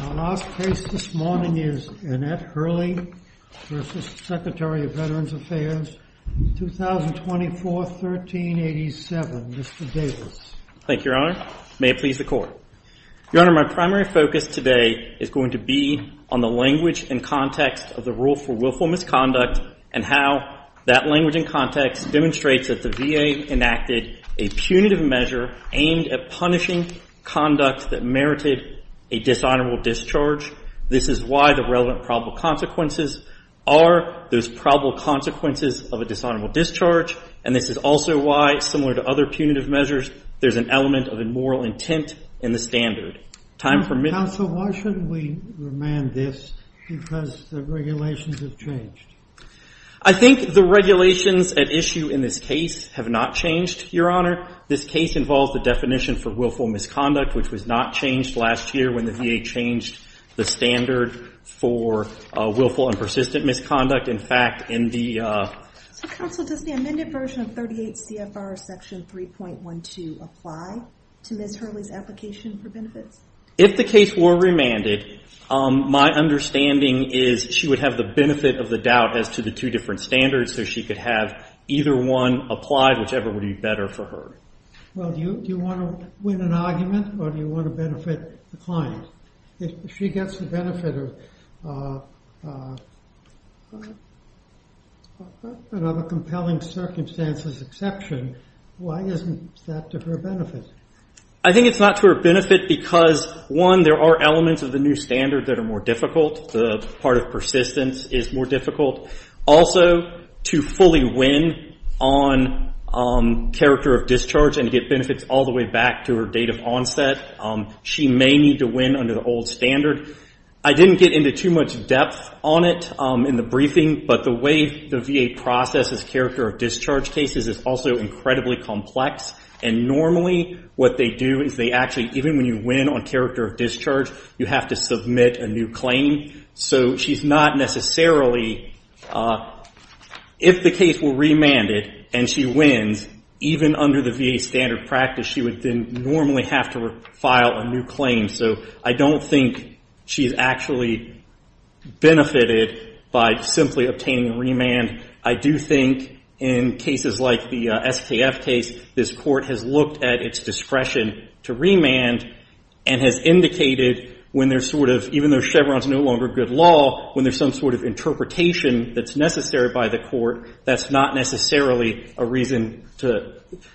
Our last case this morning is Annette Hurley v. Secretary of Veterans Affairs, 2024-1387. Mr. Davis. Thank you, your honor. May it please the court. Your honor, my primary focus today is going to be on the language and context of the rule for willful misconduct and how that language and context demonstrates that the VA enacted a punitive measure aimed at punishing conduct that merited a dishonorable discharge. This is why the relevant probable consequences are those probable consequences of a dishonorable discharge. And this is also why, similar to other punitive measures, there's an element of immoral intent in the standard. Time for minutes. Counsel, why shouldn't we remand this because the regulations have changed? I think the regulations at issue in this case have not changed, your honor. This case involves the definition for willful misconduct, which was not changed last year when the VA changed the standard for willful and persistent misconduct. In fact, in the... Counsel, does the amended version of 38 CFR section 3.12 apply to Ms. Hurley's application for benefits? If the case were remanded, my understanding is she would have the benefit of the doubt as to the two different standards, so she could have either one applied, whichever would be better for her. Well, do you want to win an argument, or do you want to benefit the client? If she gets the benefit of another compelling circumstances exception, why isn't that to her benefit? I think it's not to her benefit because, one, there are elements of the new standard that are more difficult. The part of persistence is more difficult. Also, to fully win on character of discharge and get benefits all the way back to her date of onset, she may need to win under the old standard. I didn't get into too much depth on it in the briefing, but the way the VA processes character of discharge cases is also incredibly complex, and normally what they do is they actually, even when you win on character of discharge, you have to submit a new claim. So she's not necessarily... If the case were remanded and she wins, even under the VA standard practice, she would then normally have to file a new claim. So I don't think she's actually benefited by simply obtaining a remand. I do think in cases like the SKF case, this court has looked at its discretion to remand and has indicated when there's sort of, even though Chevron's no longer good law, when there's some sort of interpretation that's necessary by the court, that's not necessarily a reason to...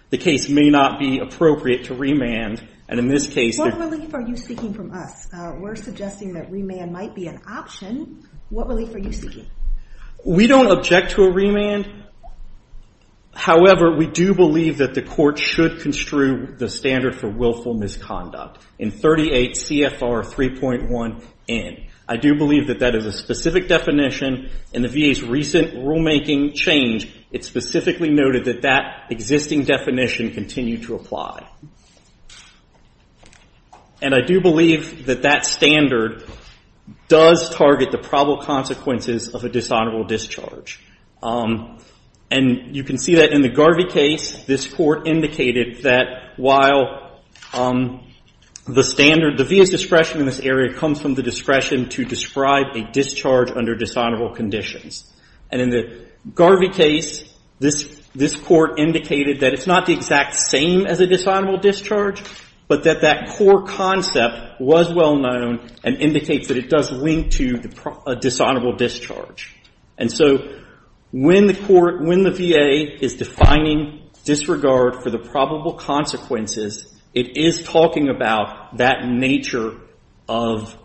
The case may not be appropriate to remand, and in this case... What relief are you seeking from us? We're suggesting that remand might be an option. What relief are you seeking? We don't object to a remand. However, we do believe that the court should construe the standard for willful misconduct in 38 CFR 3.1N. I do believe that that is a specific definition in the VA's recent rulemaking change. It specifically noted that that existing definition continued to apply. And I do believe that that standard does target the probable consequences of a dishonorable discharge. And you can see that in the Garvey case, this court indicated that while the standard, the VA's discretion in this area comes from the discretion to describe a discharge under dishonorable conditions. And in the Garvey case, this court indicated that it's not the exact same as a dishonorable discharge, but that that core concept was well known and indicates that it does link to a dishonorable discharge. And so, when the VA is defining disregard for the probable consequences, it is talking about that nature of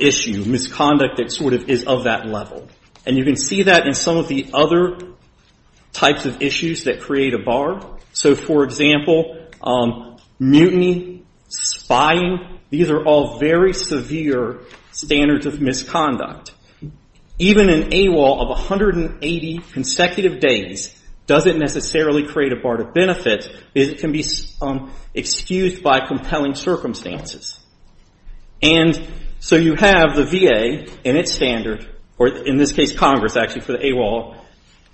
issue, misconduct that sort of is of that level. And you can see that in some of the other types of issues that create a bar. So, for example, mutiny, spying, these are all very severe standards of misconduct. Even an AWOL of 180 consecutive days doesn't necessarily create a bar to benefit. It can be excused by compelling circumstances. And so, you have the VA in its standard, or in this case, Congress, actually, for the AWOL,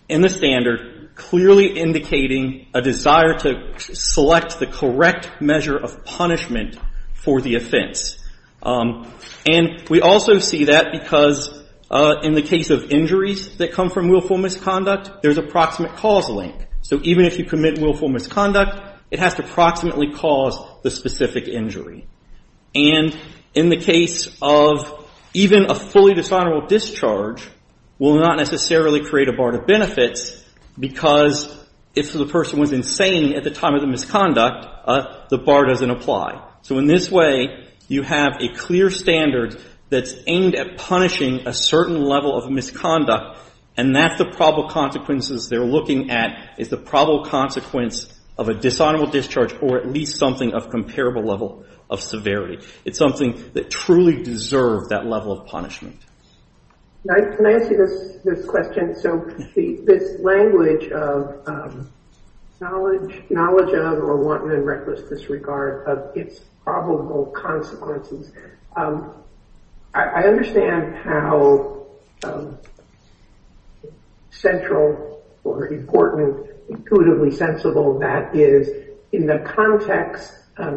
in the standard, clearly indicating a desire to select the correct measure of punishment for the offense. And we also see that because in the case of injuries that come from willful misconduct, there's approximate cause link. So, even if you commit willful misconduct, it has to approximately cause the specific injury. And in the case of even a fully dishonorable discharge will not necessarily create a bar to benefits because if the person was insane at the time of the misconduct, the bar doesn't apply. So, in this way, you have a clear standard that's aimed at punishing a certain level of misconduct, and that's the probable consequences they're looking at is the probable consequence of a dishonorable discharge or at least something of a comparable level of severity. It's something that truly deserves that level of punishment. Can I ask you this question? So, this language of knowledge of or wanton and reckless disregard of its probable consequences, I understand how central or important, intuitively sensible that is in the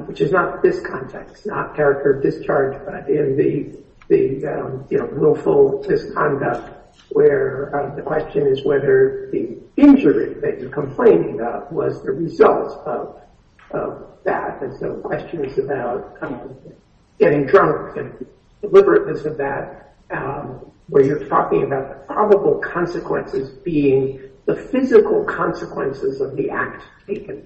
which is not this context, not character of discharge, but in the willful misconduct where the question is whether the injury that you're complaining about was the result of that. And so, questions about getting drunk and deliberateness of that where you're talking about the probable consequences being the physical consequences of the act taken.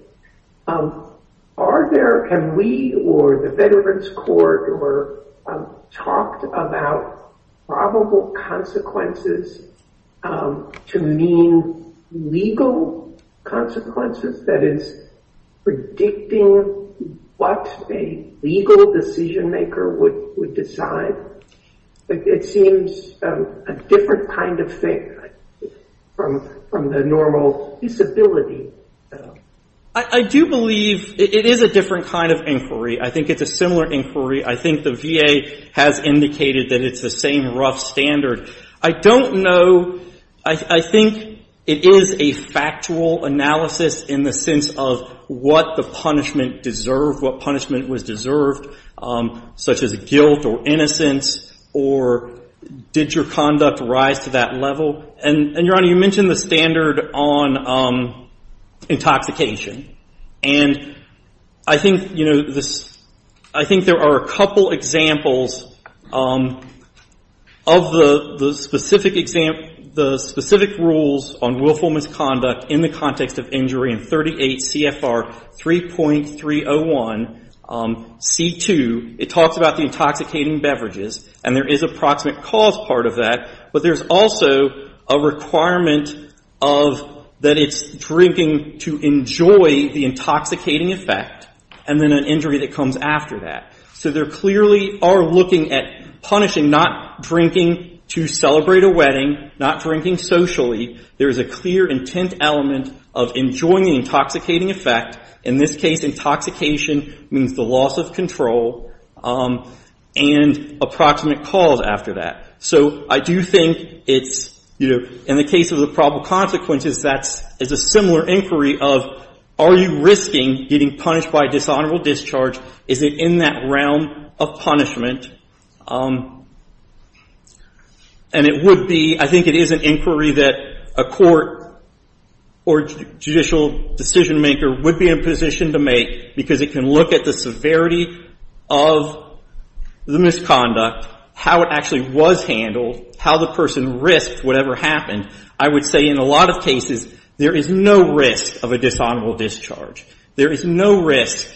Are there, have we or the Veterans Court talked about probable consequences to mean legal consequences? That is predicting what a legal decision-maker would decide. It seems a different kind of thing from the normal disability. I do believe it is a different kind of inquiry. I think it's a similar inquiry. I think the VA has indicated that it's the same rough standard. I don't know. I think it is a factual analysis in the sense of what the punishment deserved, what punishment was deserved, such as guilt or innocence or did your conduct rise to that level. And, Your Honor, you mentioned the standard on intoxication. And I think, you know, this, I think there are a couple examples of the specific rules on willful misconduct in the context of injury in 38 CFR 3.301 C2. It talks about the intoxicating beverages. And there is a proximate cause part of that. But there's also a requirement of that it's drinking to enjoy the intoxicating effect and then an injury that comes after that. So they clearly are looking at punishing not drinking to celebrate a wedding, not drinking socially. There is a clear intent element of enjoying the intoxicating effect. In this case, intoxication means the loss of control and approximate cause after that. So I do think it's, you know, in the case of the probable consequences, that is a similar inquiry of are you risking getting punished by dishonorable discharge? Is it in that realm of punishment? And it would be, I think it is an inquiry that a court or judicial decision maker would be in a position to make because it can look at the severity of the misconduct, how it actually was handled, how the person risked whatever happened. I would say in a lot of cases, there is no risk of a dishonorable discharge. There is no risk,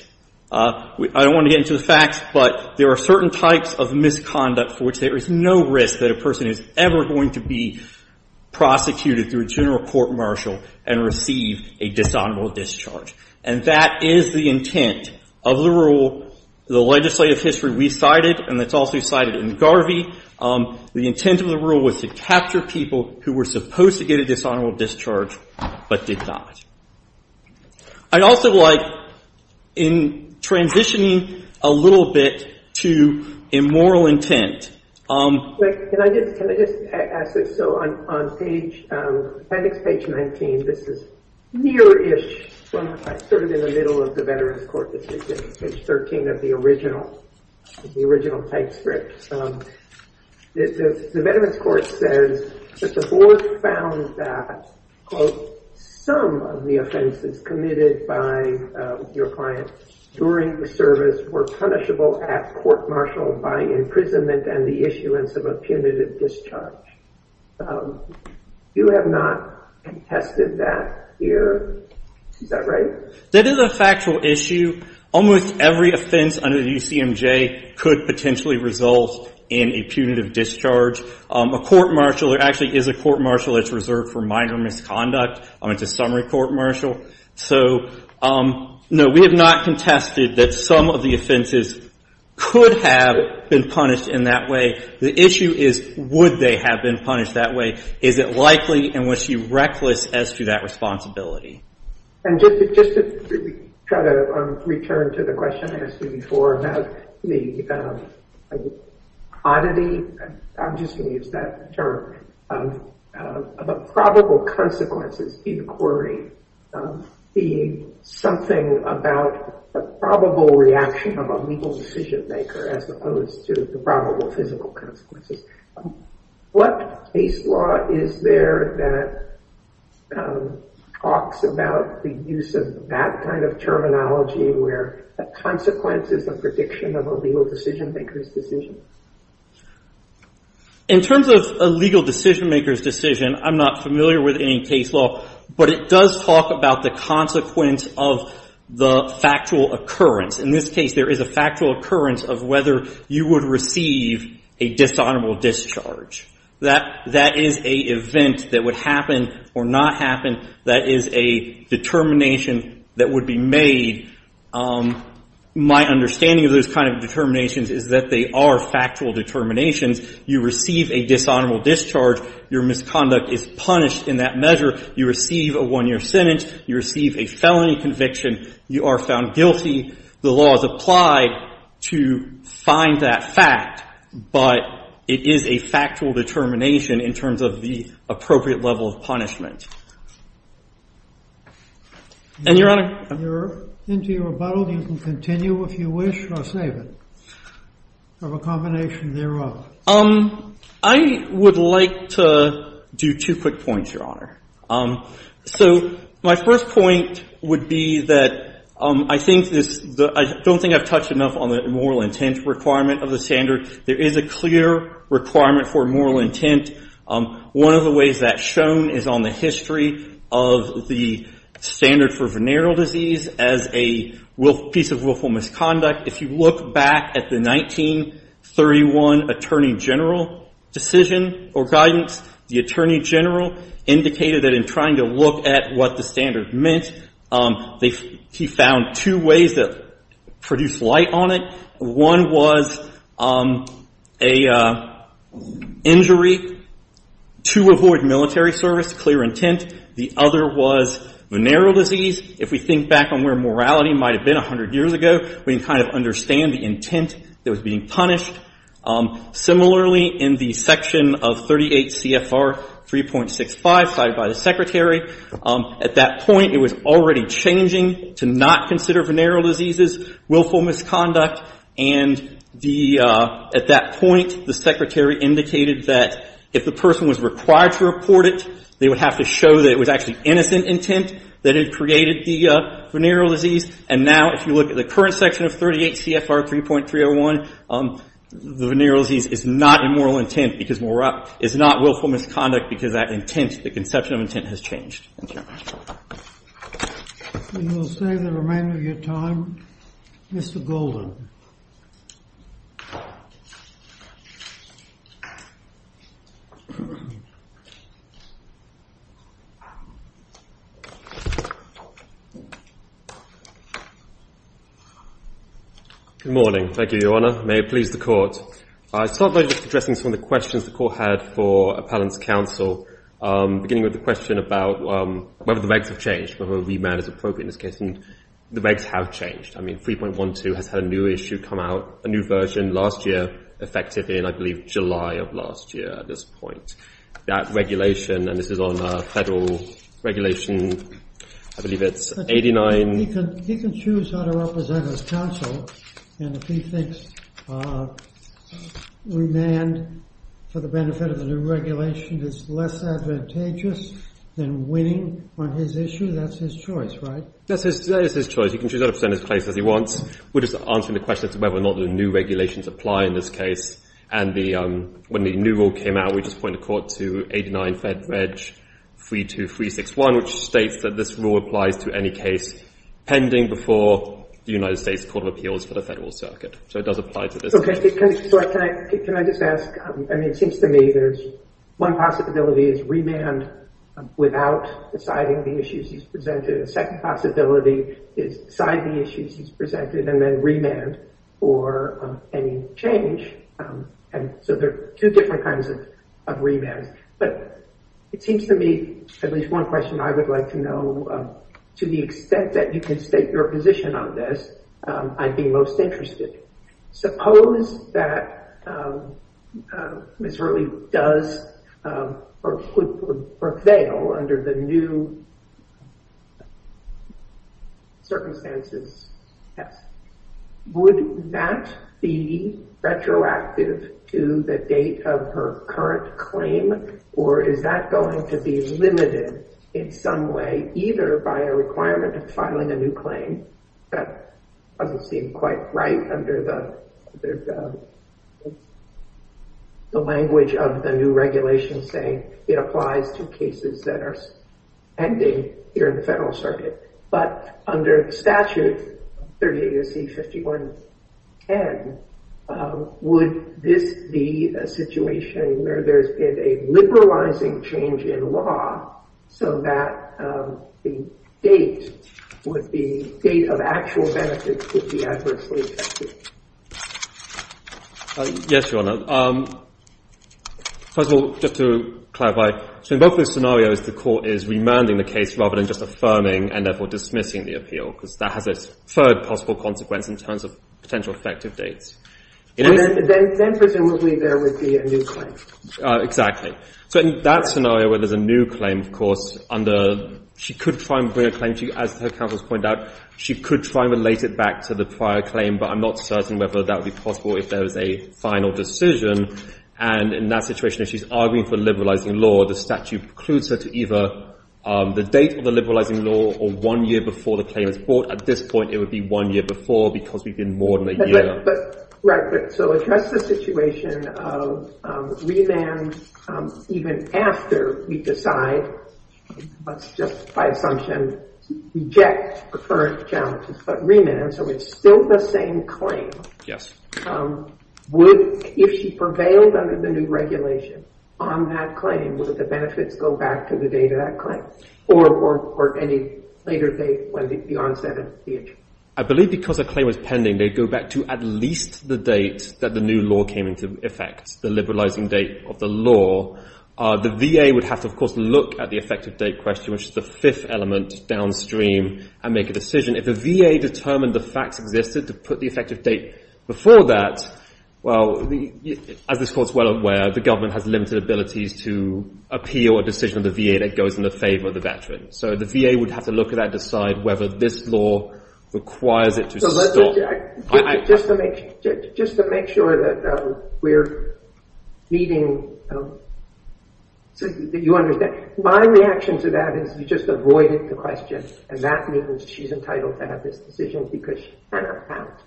I don't want to get into the facts, but there are certain types of misconduct for which there is no risk that a person is ever going to be prosecuted through a general court martial and receive a dishonorable discharge. And that is the intent of the rule, the legislative history we cited, and it's also cited in Garvey. The intent of the rule was to capture people who were supposed to get a dishonorable discharge but did not. I'd also like, in transitioning a little bit to immoral intent. Can I just ask this? So on appendix page 19, this is near-ish, sort of in the middle of the Veterans Court decision, page 13 of the original type script. The Veterans Court says that the board found that, quote, some of the offenses committed by your client during the service were punishable at court martial by imprisonment and the issuance of a punitive discharge. You have not contested that here, is that right? That is a factual issue. Almost every offense under the UCMJ could potentially result in a punitive discharge. A court martial actually is a court martial that's reserved for minor misconduct. It's a summary court martial. So, no, we have not contested that some of the offenses could have been punished in that way. The issue is, would they have been punished that way? Is it likely? And was she reckless as to that responsibility? And just to try to return to the question I asked you before about the oddity, I'm just going to use that term, of a probable consequences inquiry being something about a probable reaction of a legal decision-maker as opposed to the probable physical consequences. What case law is there that talks about the use of that kind of terminology where a consequence is a prediction of a legal decision-maker's decision? In terms of a legal decision-maker's decision, I'm not familiar with any case law, but it does talk about the consequence of the factual occurrence. In this case, there is a factual occurrence of whether you would receive a dishonorable discharge. That is a event that would happen or not happen. That is a determination that would be made. My understanding of those kind of determinations is that they are factual determinations. You receive a dishonorable discharge. Your misconduct is punished in that measure. You receive a one-year sentence. You receive a felony conviction. You are found guilty. The law is applied to find that fact, but it is a factual determination in terms of the appropriate level of punishment. And, Your Honor? If you're into your rebuttal, you can continue if you wish, or I'll save it, of a combination thereof. I would like to do two quick points, Your Honor. So my first point would be that I think I don't think I've touched enough on the moral intent requirement of the standard. There is a clear requirement for moral intent. One of the ways that's shown is on the history of the standard for venereal disease as a piece of willful misconduct. If you look back at the 1931 Attorney General decision or guidance, the Attorney General indicated that in trying to look at what the standard meant, he found two ways that produced light on it. One was an injury to avoid military service, clear intent. The other was venereal disease. If we think back on where morality might have been 100 years ago, we can kind of understand the intent that was being punished. Similarly, in the section of 38 CFR 3.65 cited by the Secretary, at that point it was already changing to not consider venereal diseases willful misconduct. And at that point, the Secretary indicated that if the person was required to report it, they would have to show that it was actually innocent intent that had created the venereal disease. And now if you look at the venereal disease, it's not a moral intent because it's not willful misconduct because that intent, the conception of intent, has changed. Thank you. And we'll save the remainder of your time. Mr. Golden. Good morning. Thank you, Your Honor. May it please the Court. I start by just addressing some of the questions the Court had for Appellant's counsel, beginning with the question about whether the regs have changed, whether a remand is appropriate in this case. And the regs have changed. I mean, 3.12 has had a new issue come out, a new version last year, effective in, I believe, July of last year at this point. That regulation, and this is on a federal regulation, I believe it's 89. He can choose how to represent his counsel. And if he thinks remand for the benefit of the new regulation is less advantageous than winning on his issue, that's his choice, right? That is his choice. He can choose how to present his case as he wants. We're just answering the question as to whether or not the new regulations apply in this case. And when the new rule came out, we just pointed the Court to 89 Fed Reg 32361, which states that this rule applies to any case pending before the United States Court of Appeals for the federal circuit. So it does apply to this case. Okay. Can I just ask? I mean, it seems to me there's one possibility is remand without deciding the issues he's presented. A second possibility is decide the issues he's presented and then remand for any change. And so there are two different kinds of remands. But it seems to me at least one question I would like to know, to the extent that you can state your position on this, I'd be most interested. Suppose that Ms. Hurley does or could prevail under the new circumstances test. Would that be retroactive to the date of her current claim? Or is that going to be limited in some way, either by a requirement of filing a new claim? That doesn't seem quite right under the language of the new regulations saying it applies to cases that are pending here in the federal circuit. But under statute 38 AC 5110, would this be a situation where there's been a liberalizing change in law so that the date with the date of actual benefits could be adversely affected? Yes, Your Honor. First of all, just to clarify, so in both of those scenarios, the court is remanding the case rather than just affirming and therefore dismissing the appeal because that has a third possible consequence in terms of potential effective dates. And then presumably there would be a new claim. Exactly. So in that scenario where there's a new claim, of course, under she could try and bring a claim to you, as her point out, she could try and relate it back to the prior claim, but I'm not certain whether that would be possible if there was a final decision. And in that situation, if she's arguing for liberalizing law, the statute precludes her to either the date of the liberalizing law or one year before the claim is brought. At this point, it would be one year before because we've been more than a year. Right. So address the situation of remand even after we decide, let's just by assumption reject the current challenges, but remand, so it's still the same claim. Yes. Would, if she prevailed under the new regulation on that claim, would the benefits go back to the date of that claim or any later date when the onset of the issue? I believe because the claim was pending, they'd go back to at least the date that the new law came into effect, the liberalizing date of the law. The VA would have to, of course, look at the effective date question, which is the fifth element downstream and make a decision. If the VA determined the facts existed to put the effective date before that, well, as this court's well aware, the government has limited abilities to appeal a decision of the VA that goes in the favor of the veteran. So the VA would have to look at that, decide whether this law requires it to stop. Just to make sure that we're meeting, did you understand? My reaction to that is you just avoided the question and that means she's entitled to have this decision because she cannot count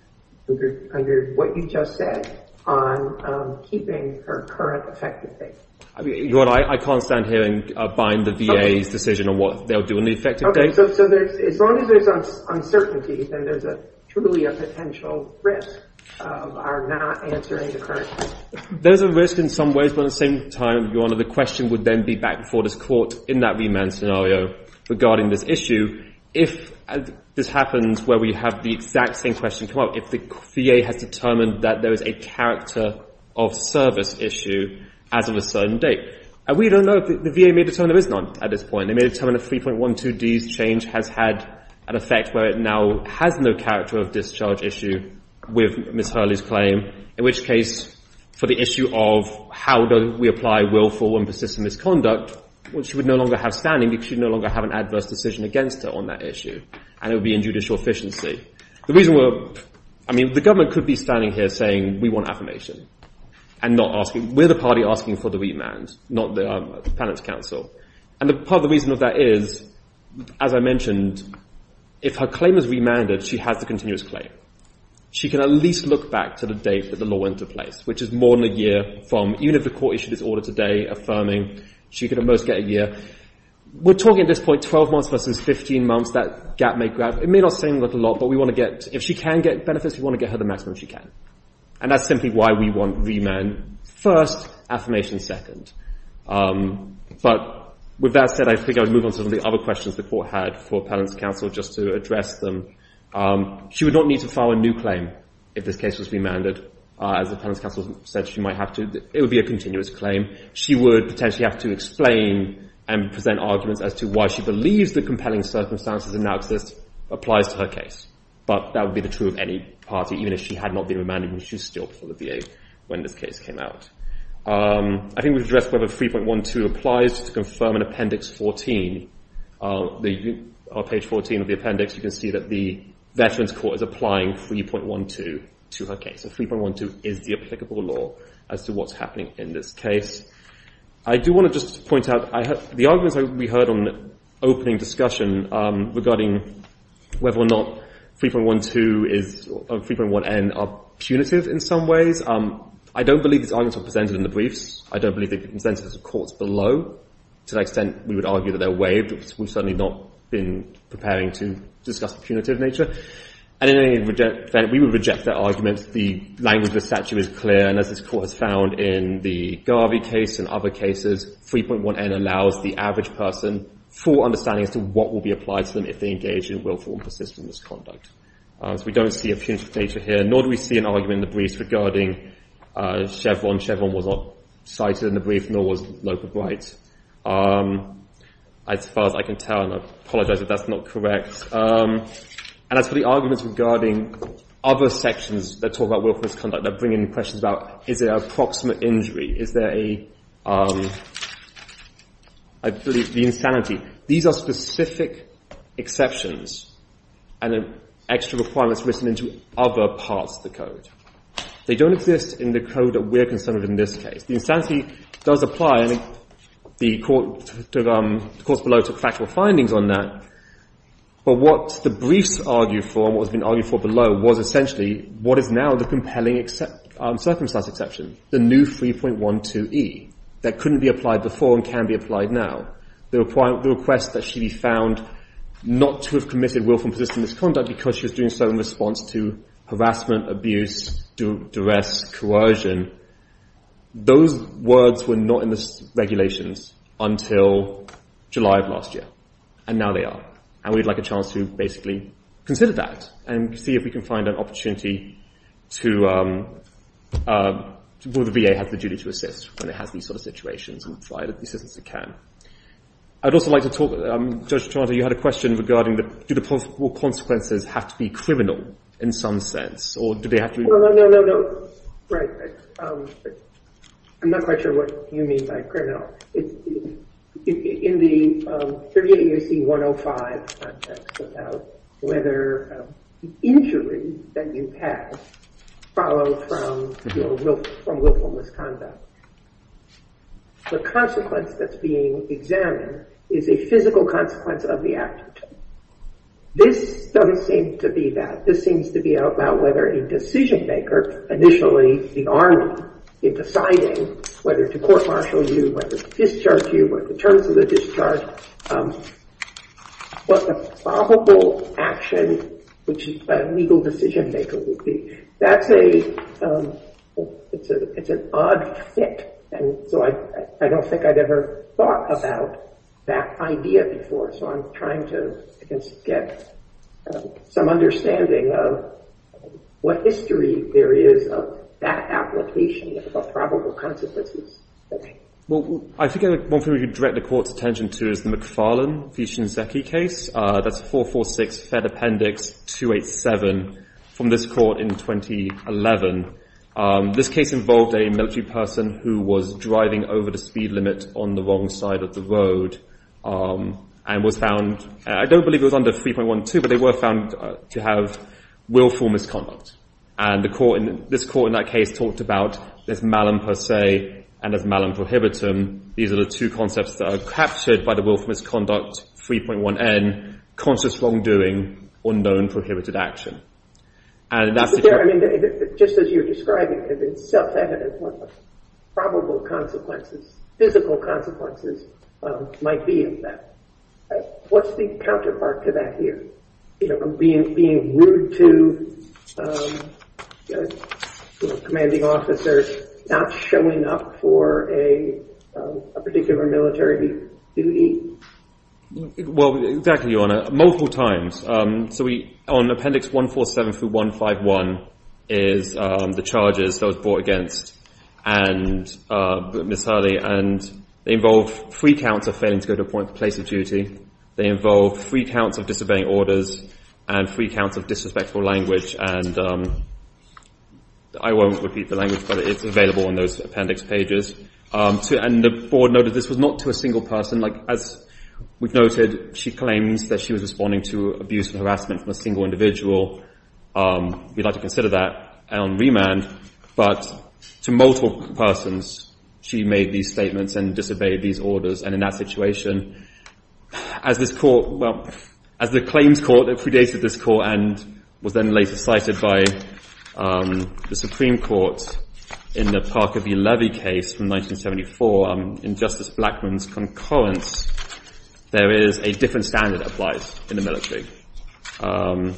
under what you just said on keeping her current effective date. I can't stand here and bind the VA's decision on what they'll do on the effective date. Okay. So as long as there's uncertainty, then there's truly a potential risk of our not answering the current question. There's a risk in some ways, but at the same time, Your Honor, the question would then be back before this court in that remand scenario regarding this issue. If this happens where we have the exact same question come up, if the VA has determined that there is a character of service issue as of a certain date. We don't know if the VA may determine there is none at this point. They may determine a 3.12D's change has had an effect where it now has no character of discharge issue with Ms. Hurley's claim, in which case for the issue of how do we apply willful and persistent misconduct, which she would no longer have standing because she no longer have an adverse decision against her on that issue and it would be in judicial efficiency. The reason we're, I mean, the government could be standing here saying we want affirmation and not asking, we're the party asking for the remand, not the Appellant's counsel. And part of the reason of that is, as I mentioned, if her claim is remanded, she has the continuous claim. She can at least look back to the date that the law went into place, which is more than a year from even if the court issued this order today affirming she could at most get a year. We're talking at this point 12 months versus 15 months, that gap may grab, it may not seem like a lot, but we want to get, if she can get benefits, we want to get her the maximum she can. And that's simply why we want remand first, affirmation second. But with that said, I think I would move on to some of the other questions the court had for Appellant's counsel just to address them. She would not need to file a new claim if this case was remanded, as the Appellant's counsel said she might have to, it would be a continuous claim. She would potentially have to explain and present arguments as to why she believes the compelling circumstances that now exist applies to her case. But that would be the party, even if she had not been remanded, and she's still before the VA when this case came out. I think we've addressed whether 3.12 applies to confirm an appendix 14. On page 14 of the appendix, you can see that the Veterans Court is applying 3.12 to her case. So 3.12 is the applicable law as to what's happening in this case. I do want to just point out, the arguments we heard on opening discussion regarding whether or not 3.12 and 3.1n are punitive in some ways, I don't believe these arguments were presented in the briefs. I don't believe they've been presented to the courts below. To that extent, we would argue that they're waived. We've certainly not been preparing to discuss the punitive nature. And in any event, we would reject that argument. The language of the statute is clear. And as the court has found in the Garvey case and other cases, 3.1n allows the average person full understanding as to what will be applied to them if they engage in willful and persistent misconduct. So we don't see a punitive nature here, nor do we see an argument in the briefs regarding Chevron. Chevron was not cited in the brief, nor was Loper Bright. As far as I can tell, and I apologize if that's not correct, and as for the arguments regarding other sections that talk about willful misconduct, that bring in questions about is there an approximate injury, is there a insanity, these are specific exceptions and extra requirements written into other parts of the code. They don't exist in the code that we're concerned with in this case. The insanity does apply. The courts below took factual findings on that. But what the briefs argued for, was essentially what is now the compelling circumstance exception, the new 3.12e that couldn't be applied before and can be applied now. The request that she be found not to have committed willful and persistent misconduct because she was doing so in response to harassment, abuse, duress, coercion, those words were not in the regulations until July of last year. And now they are. And we'd like a chance to basically consider that and see if we can find an opportunity to, where the VA has the duty to assist when it has these sort of situations and try to assist as it can. I'd also like to talk, Judge Toronto, you had a question regarding do the possible consequences have to be criminal in some sense, or do they have to be? No, no, no, no. Right. I'm not quite sure what you mean by criminal. In the 38 U.C. 105, whether the injury that you have followed from willful misconduct, the consequence that's being examined is a physical consequence of the act. This doesn't seem to be that. This seems to be about whether a decision-maker, initially the army, in deciding whether to court-martial you, whether to discharge you, what the terms of the discharge, what the probable action, which a legal decision-maker would be. That's a, it's an odd fit. And so I don't think I've ever thought about that idea before. So I'm trying to get some understanding of what history there is of that application of the probable consequences. Well, I think one thing we could direct the court's attention to is the McFarlane v. Shinzeki case. That's 446 Fed Appendix 287 from this court in 2011. This case involved a military person who was driving over the speed limit on the wrong side of the road and was found, I don't believe it was under 3.12, but they were found to have willful misconduct. And the court, this court in that case talked about this malum per se and this malum prohibitum. These are the two concepts that are captured by the willful misconduct 3.1n, conscious wrongdoing, unknown prohibited action. And that's the case. I mean, just as you're describing it, it's self-evident what probable consequences, physical consequences, might be of that. What's the counterpart to that here? Being rude to commanding officers, not showing up for a particular military duty? Well, exactly, Your Honor. Multiple times. So on Appendix 147 through 151 is the charges that and Ms. Hurley. And they involve three counts of failing to go to a place of duty. They involve three counts of disobeying orders and three counts of disrespectful language. And I won't repeat the language, but it's available on those appendix pages. And the board noted this was not to a single person. As we've noted, she claims that she was responding to abuse and harassment from a single individual. We'd like to consider that on remand. But to multiple persons, she made these statements and disobeyed these orders. And in that situation, as this court, well, as the claims court that predated this court and was then later cited by the Supreme Court in the Parker v. Levy case from 1974, in Justice Blackmun's concurrence, there is a different standard applied in the military. And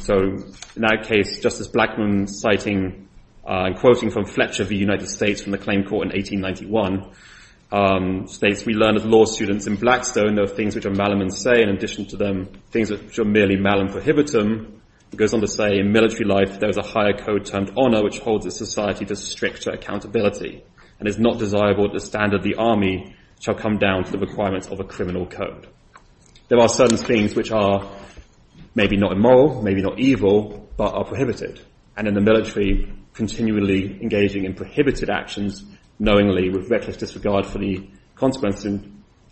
so in that case, Justice Blackmun citing and quoting from Fletcher of the United States from the claim court in 1891, states, we learn as law students in Blackstone, there are things which are malum in say, in addition to them, things which are merely malum prohibitum. It goes on to say, in military life, there is a higher code termed honor, which holds a society to stricter accountability and is not desirable to standard the army shall come down to the requirements of a criminal code. There are certain things which are maybe not immoral, maybe not evil, but are prohibited. And in the military, continually engaging in prohibited actions, knowingly with reckless disregard for the consequences,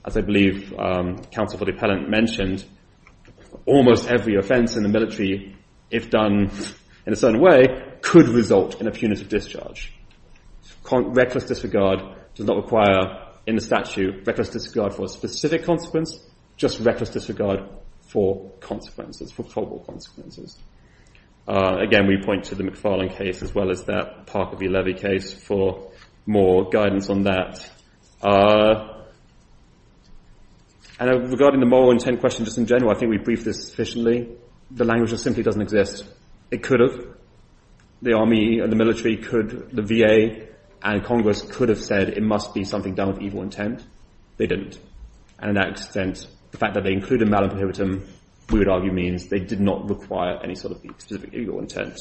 as I believe, counsel for the appellant mentioned, almost every offense in the military, if done in a certain way, could result in a punitive discharge. Reckless disregard does not require, in the statute, reckless disregard for a specific consequence, just reckless disregard for consequences, for probable consequences. Again, we point to the McFarland case as well as that Parker v. Levy case for more guidance on that. And regarding the moral intent question, just in general, I think we briefed this sufficiently. The language just simply doesn't exist. It could have. The army and the military could, the VA and Congress could have said it must be something done with evil intent. They didn't. And in that extent, the fact that they included malum prohibitum, we would argue means they did not require any sort of specific evil intent.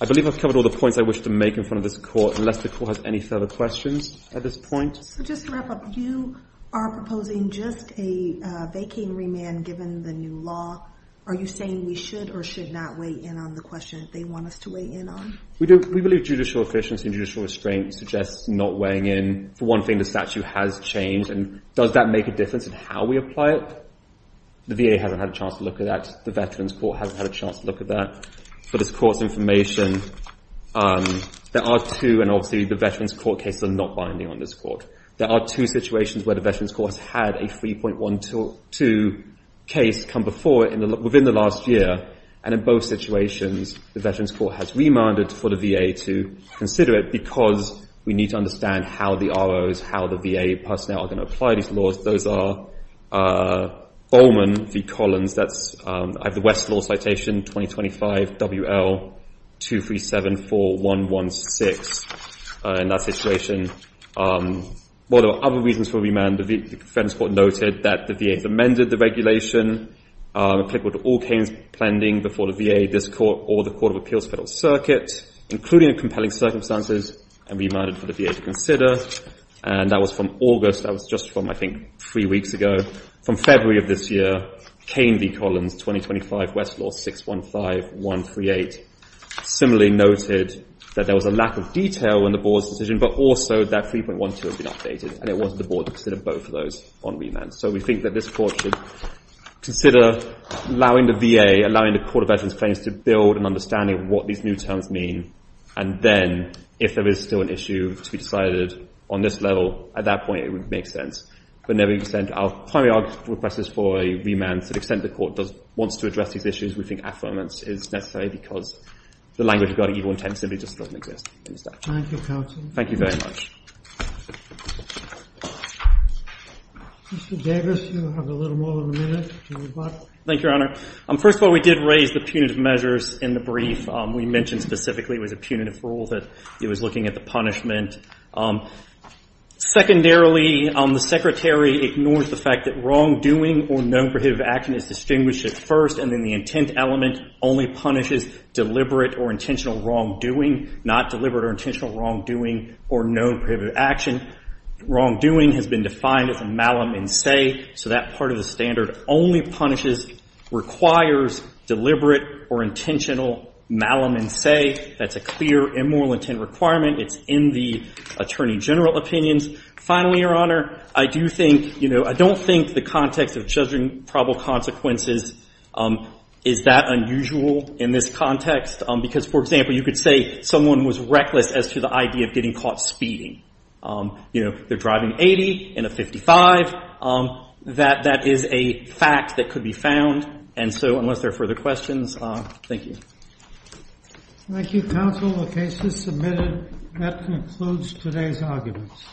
I believe I've covered all the points I wish to make in front of this court, unless the court has any further questions at this point. So just to wrap up, you are proposing just a vacant remand given the new law. Are you saying we should or should not weigh in on the question they want us to weigh in on? We do. We believe judicial efficiency and judicial restraint suggests not weighing in. For one thing, the statute has changed. And does that make a difference in how we apply it? The VA hasn't had a chance to look at that. The Veterans Court hasn't had a chance to look at that. For this court's information, there are two, and obviously the Veterans Court cases are not binding on this court. There are two situations where the Veterans Court has had a 3.12 case come before it within the last year. And in both situations, the Veterans Court has remanded for the VA to consider it because we need to understand how the ROs, how the VA personnel are going to apply these laws. Those are Bowman v. Collins. I have the Westlaw citation 2025 WL 2374116 in that situation. Well, there are other reasons for remand. The Veterans Court noted that the VA has amended the regulation applicable to all Kane's planning before the VA, this court, or the Court of Appeals Federal Circuit, including the compelling circumstances, and remanded for the VA to consider. And that was from August. That was just from, I think, three weeks ago. From February of this year, Kane v. Collins 2025 WL 615138 similarly noted that there was a lack of detail in the board's decision, but also that 3.12 has been updated, and it was the board to consider both of those on remand. So we think that this court should consider allowing the VA, allowing the Court of Veterans Claims to build an understanding of what these new terms mean. And then, if there is still an issue to be decided on this level, at that point, it would make sense. Our primary request is for a remand. To the extent the court wants to address these issues, we think affirmance is necessary, because the language regarding evil intent simply just doesn't exist in this statute. Thank you very much. Mr. Davis, you have a little more than a minute to rebut. Thank you, Your Honor. First of all, we did raise the punitive measures in the brief. We mentioned specifically it was a punitive rule that it was looking at the punishment. Secondarily, the Secretary ignores the fact that wrongdoing or known prohibitive action is distinguished at first, and then the intent element only punishes deliberate or intentional wrongdoing, not deliberate or intentional wrongdoing or known prohibitive action. Wrongdoing has been defined as a malum in se, so that part of the standard only punishes, requires deliberate or intentional malum in se. That's a clear immoral intent requirement. It's in the attorney general opinions. Finally, Your Honor, I do think, you know, I don't think the context of judging probable consequences is that unusual in this context, because, for example, you could say someone was reckless as to the idea of getting caught speeding. You know, they're driving 80 in a 55. That is a fact that could be found, and so unless there are further questions, thank you. Thank you, counsel. The case is submitted. That concludes today's arguments.